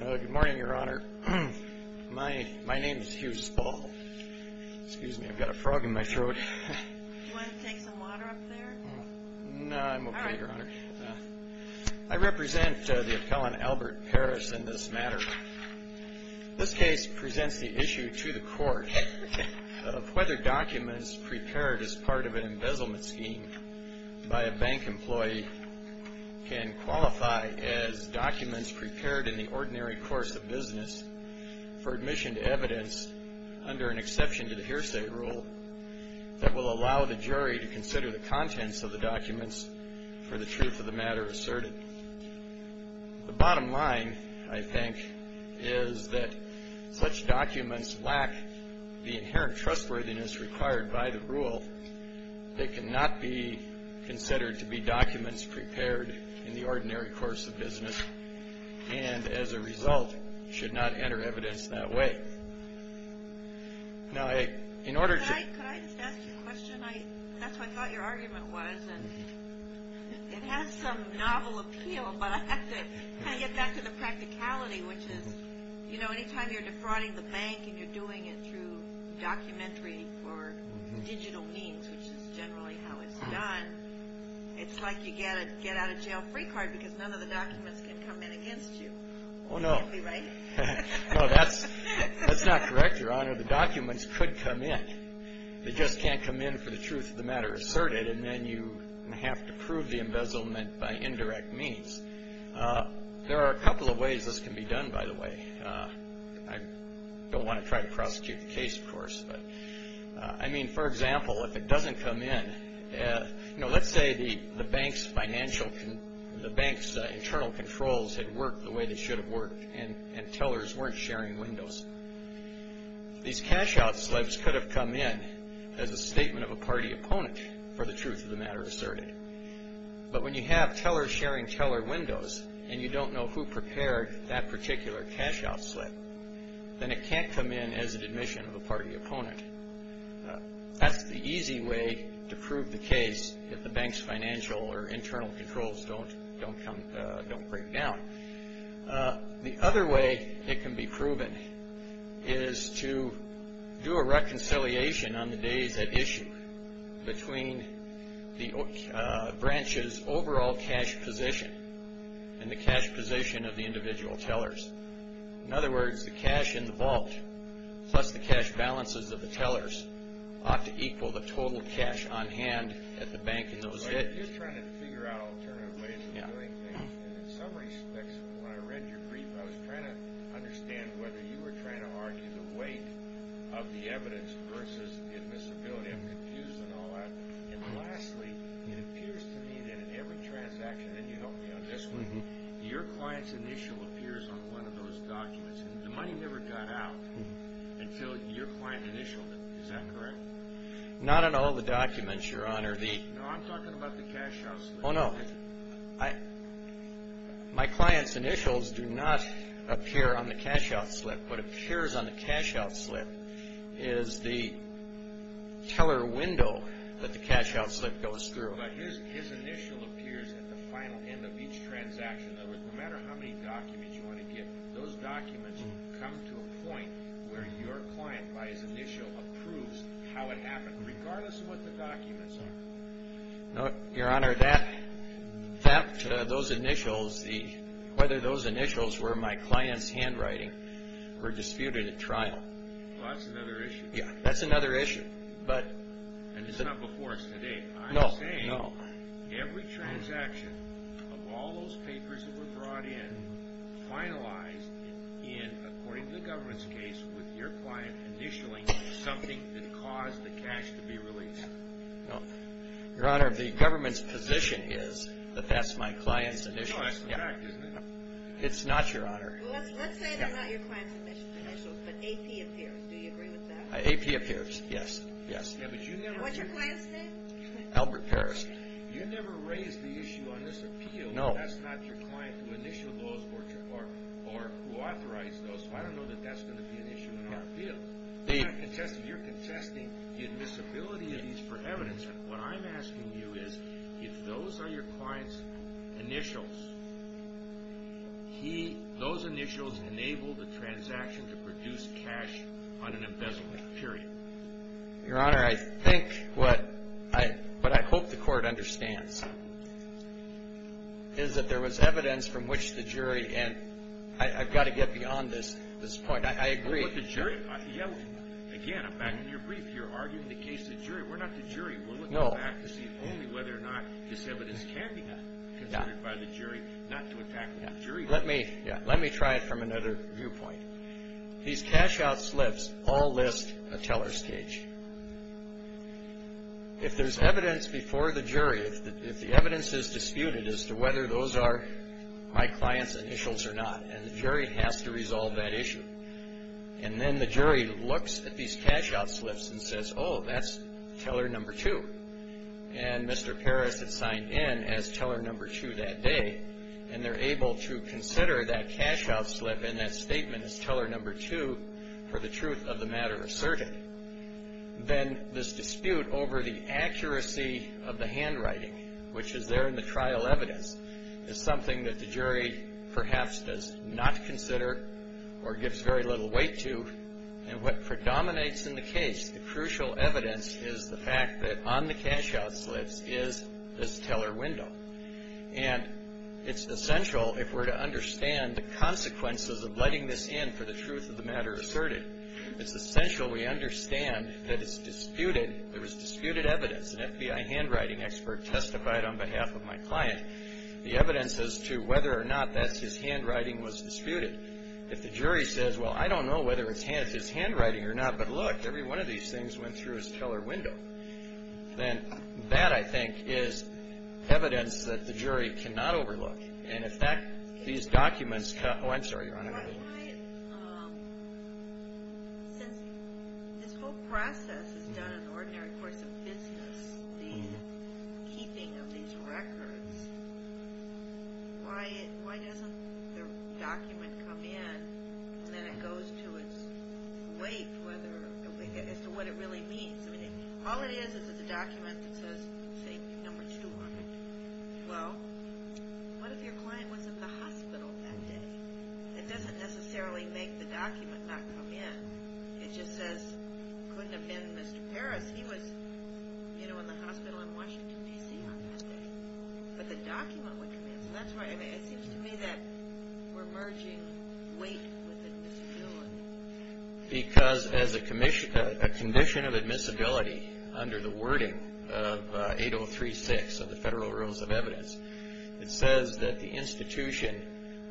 Good morning, Your Honor. My name is Hughes Ball. Excuse me, I've got a frog in my throat. Do you want to take some water up there? No, I'm okay, Your Honor. I represent the appellant Albert Parris in this matter. This case presents the issue to the court of whether documents prepared as part of an embezzlement scheme by a bank employee can qualify as documents prepared in the ordinary course of business for admission to evidence under an exception to the hearsay rule that will allow the jury to consider the contents of the documents for the truth of the matter asserted. The bottom line, I think, is that such documents lack the inherent trustworthiness required by the rule. They cannot be considered to be documents prepared in the ordinary course of business and, as a result, should not enter evidence that way. Now, in order to... Could I just ask you a question? That's what I thought your argument was. It has some novel appeal, but I have to kind of get back to the practicality, which is, you know, any time you're defrauding the bank and you're doing it through documentary or digital means, which is generally how it's done, it's like you get out of jail free card because none of the documents can come in against you. Oh, no. That can't be right? No, that's not correct, Your Honor. The documents could come in. They just can't come in for the truth of the matter asserted, and then you have to prove the embezzlement by indirect means. There are a couple of ways this can be done, by the way. I don't want to try to prosecute the case, of course, but... I mean, for example, if it doesn't come in... You know, let's say the bank's financial... the bank's internal controls had worked the way they should have worked and tellers weren't sharing windows. These cash-out slips could have come in as a statement of a party opponent for the truth of the matter asserted, but when you have tellers sharing teller windows and you don't know who prepared that particular cash-out slip, then it can't come in as an admission of a party opponent. That's the easy way to prove the case if the bank's financial or internal controls don't break down. The other way it can be proven is to do a reconciliation on the days at issue between the branch's overall cash position and the cash position of the individual tellers. In other words, the cash in the vault plus the cash balances of the tellers ought to equal the total cash on hand at the bank in those days. You're trying to figure out alternative ways of doing things, and in some respects, when I read your brief, I was trying to understand whether you were trying to argue the weight of the evidence versus the admissibility. I'm confused on all that. And lastly, it appears to me that in every transaction, and you helped me on this one, your client's initial appears on one of those documents. The money never got out until your client initialed it. Is that correct? Not on all the documents, Your Honor. No, I'm talking about the cash-out slip. Oh, no. My client's initials do not appear on the cash-out slip. What appears on the cash-out slip is the teller window that the cash-out slip goes through. But his initial appears at the final end of each transaction. No matter how many documents you want to get, those documents come to a point where your client, by his initial, approves how it happened, regardless of what the documents are. No, Your Honor, those initials, whether those initials were my client's handwriting, were disputed at trial. Well, that's another issue. Yeah, that's another issue. And this is not before us today. I'm saying every transaction of all those papers that were brought in, finalized in, according to the government's case, with your client initialing something that caused the cash to be released. No, Your Honor, the government's position is that that's my client's initial. No, that's a fact, isn't it? It's not, Your Honor. Well, let's say they're not your client's initials, but AP appears. Do you agree with that? AP appears, yes, yes. What's your client's name? Albert Parris. You never raised the issue on this appeal that that's not your client who initialed those or who authorized those, so I don't know that that's going to be an issue in our appeal. You're contesting the admissibility of these for evidence, and what I'm asking you is if those are your client's initials, those initials enable the transaction to produce cash on an embezzlement, period. Your Honor, I think what I hope the Court understands is that there was evidence from which the jury, and I've got to get beyond this point. I agree. Again, I'm back in your brief here arguing the case of the jury. We're not the jury. We're looking back to see only whether or not this evidence can be considered by the jury not to attack the jury. Let me try it from another viewpoint. These cash-out slips all list a teller's cage. If there's evidence before the jury, if the evidence is disputed as to whether those are my client's initials or not, and the jury has to resolve that issue, and then the jury looks at these cash-out slips and says, oh, that's teller number two, and Mr. Parris had signed in as teller number two that day, and they're able to consider that cash-out slip and that statement as teller number two for the truth of the matter asserted, then this dispute over the accuracy of the handwriting, which is there in the trial evidence, is something that the jury perhaps does not consider or gives very little weight to, and what predominates in the case, the crucial evidence, is the fact that on the cash-out slips is this teller window. And it's essential, if we're to understand the consequences of letting this in for the truth of the matter asserted, it's essential we understand that it's disputed, there was disputed evidence, an FBI handwriting expert testified on behalf of my client, the evidence as to whether or not that's his handwriting was disputed. If the jury says, well, I don't know whether it's his handwriting or not, but look, every one of these things went through his teller window, then that, I think, is evidence that the jury cannot overlook, and in fact, these documents, oh, I'm sorry, Your Honor. Since this whole process is done in the ordinary course of business, the keeping of these records, why doesn't the document come in, and then it goes to its weight as to what it really means? All it is is it's a document that says, say, number two, well, what if your client was at the hospital that day? It doesn't necessarily make the document not come in. It just says, couldn't have been Mr. Paris. He was, you know, in the hospital in Washington, D.C. on that day. But the document would come in. So that's why it seems to me that we're merging weight with admissibility. Because as a condition of admissibility under the wording of 8036 of the Federal Rules of Evidence, it says that the institution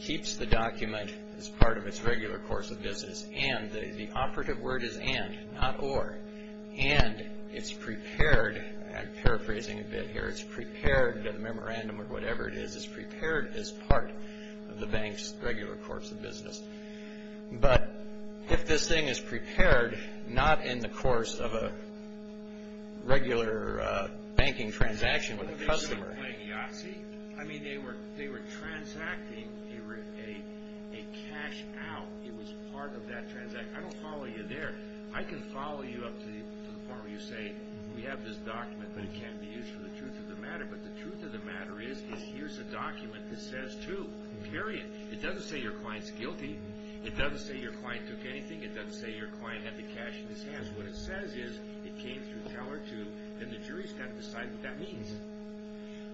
keeps the document as part of its regular course of business, and the operative word is and, not or. And it's prepared, I'm paraphrasing a bit here, it's prepared, the memorandum or whatever it is is prepared as part of the bank's regular course of business. But if this thing is prepared not in the course of a regular banking transaction with a customer, playing Yahtzee, I mean, they were transacting a cash out. It was part of that transaction. I don't follow you there. I can follow you up to the point where you say, we have this document, but it can't be used for the truth of the matter. But the truth of the matter is, is here's a document that says to, period. It doesn't say your client's guilty. It doesn't say your client took anything. It doesn't say your client had the cash in his hands. What it says is, it came through Tower 2, and the jury's got to decide what that means.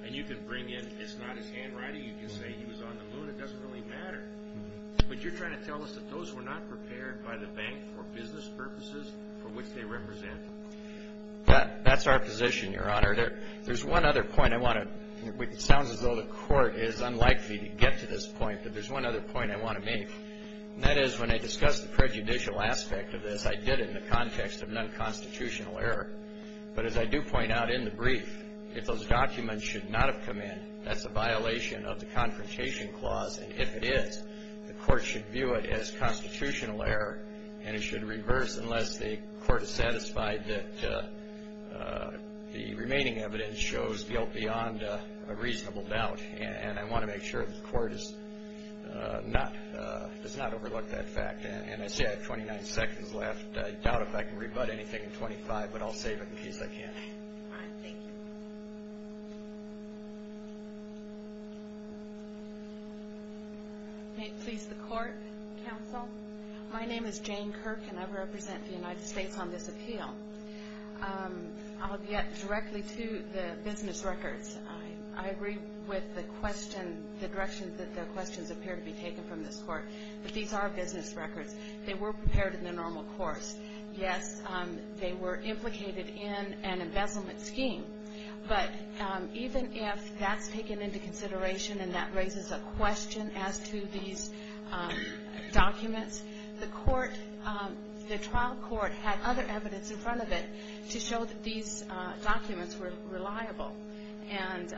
And you can bring in, it's not his handwriting. You can say he was on the moon. It doesn't really matter. But you're trying to tell us that those were not prepared by the bank for business purposes for which they represent. That's our position, Your Honor. There's one other point I want to, it sounds as though the court is unlikely to get to this point, but there's one other point I want to make. And that is, when I discuss the prejudicial aspect of this, I did it in the context of non-constitutional error. But as I do point out in the brief, if those documents should not have come in, that's a violation of the Confrontation Clause. And if it is, the court should view it as constitutional error, and it should reverse unless the court is satisfied that the remaining evidence shows guilt beyond a reasonable doubt. And I want to make sure that the court does not overlook that fact. And I see I have 29 seconds left. I doubt if I can rebut anything in 25, but I'll save it in case I can't. All right, thank you. May it please the Court, Counsel? My name is Jane Kirk, and I represent the United States on this appeal. I'll get directly to the business records. I agree with the question, the direction that the questions appear to be taken from this Court. But these are business records. They were prepared in the normal course. Yes, they were implicated in an embezzlement scheme. But even if that's taken into consideration and that raises a question as to these documents, the court, the trial court had other evidence in front of it to show that these documents were reliable. And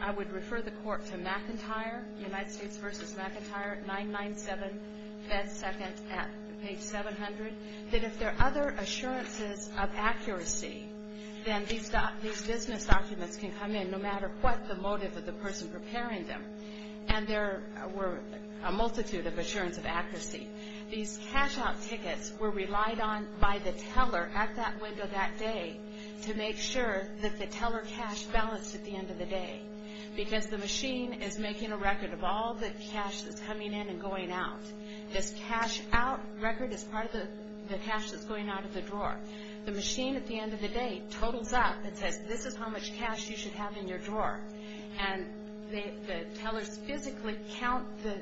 I would refer the Court to McIntyre, United States v. McIntyre, 997, Fed Seconds at page 700, that if there are other assurances of accuracy, then these business documents can come in no matter what the motive of the person preparing them. And there were a multitude of assurances of accuracy. These cash-out tickets were relied on by the teller at that window that day to make sure that the teller cashed balance at the end of the day because the machine is making a record of all the cash that's coming in and going out. This cash-out record is part of the cash that's going out of the drawer. The machine at the end of the day totals up and says, this is how much cash you should have in your drawer. And the tellers physically count the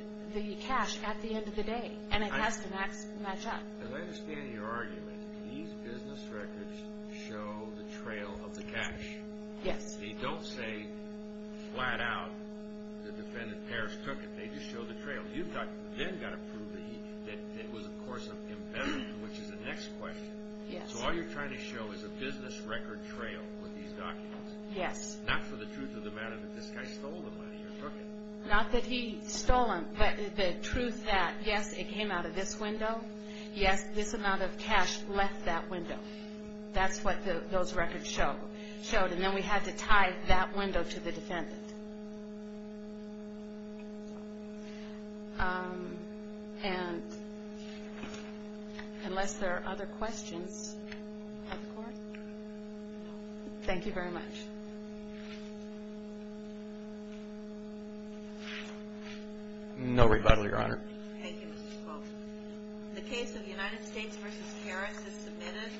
cash at the end of the day. And it has to match up. As I understand your argument, these business records show the trail of the cash. Yes. They don't say flat out the defendant Paris took it. They just show the trail. You then got to prove that it was, of course, an embezzlement, which is the next question. Yes. So all you're trying to show is a business record trail with these documents. Yes. Not for the truth of the matter that this guy stole the money or took it. Not that he stole them, but the truth that, yes, it came out of this window. Yes, this amount of cash left that window. That's what those records showed. And then we had to tie that window to the defendant. And unless there are other questions of the court, thank you very much. No rebuttal, Your Honor. Thank you, Mr. Cole. The case of United States v. Paris is submitted.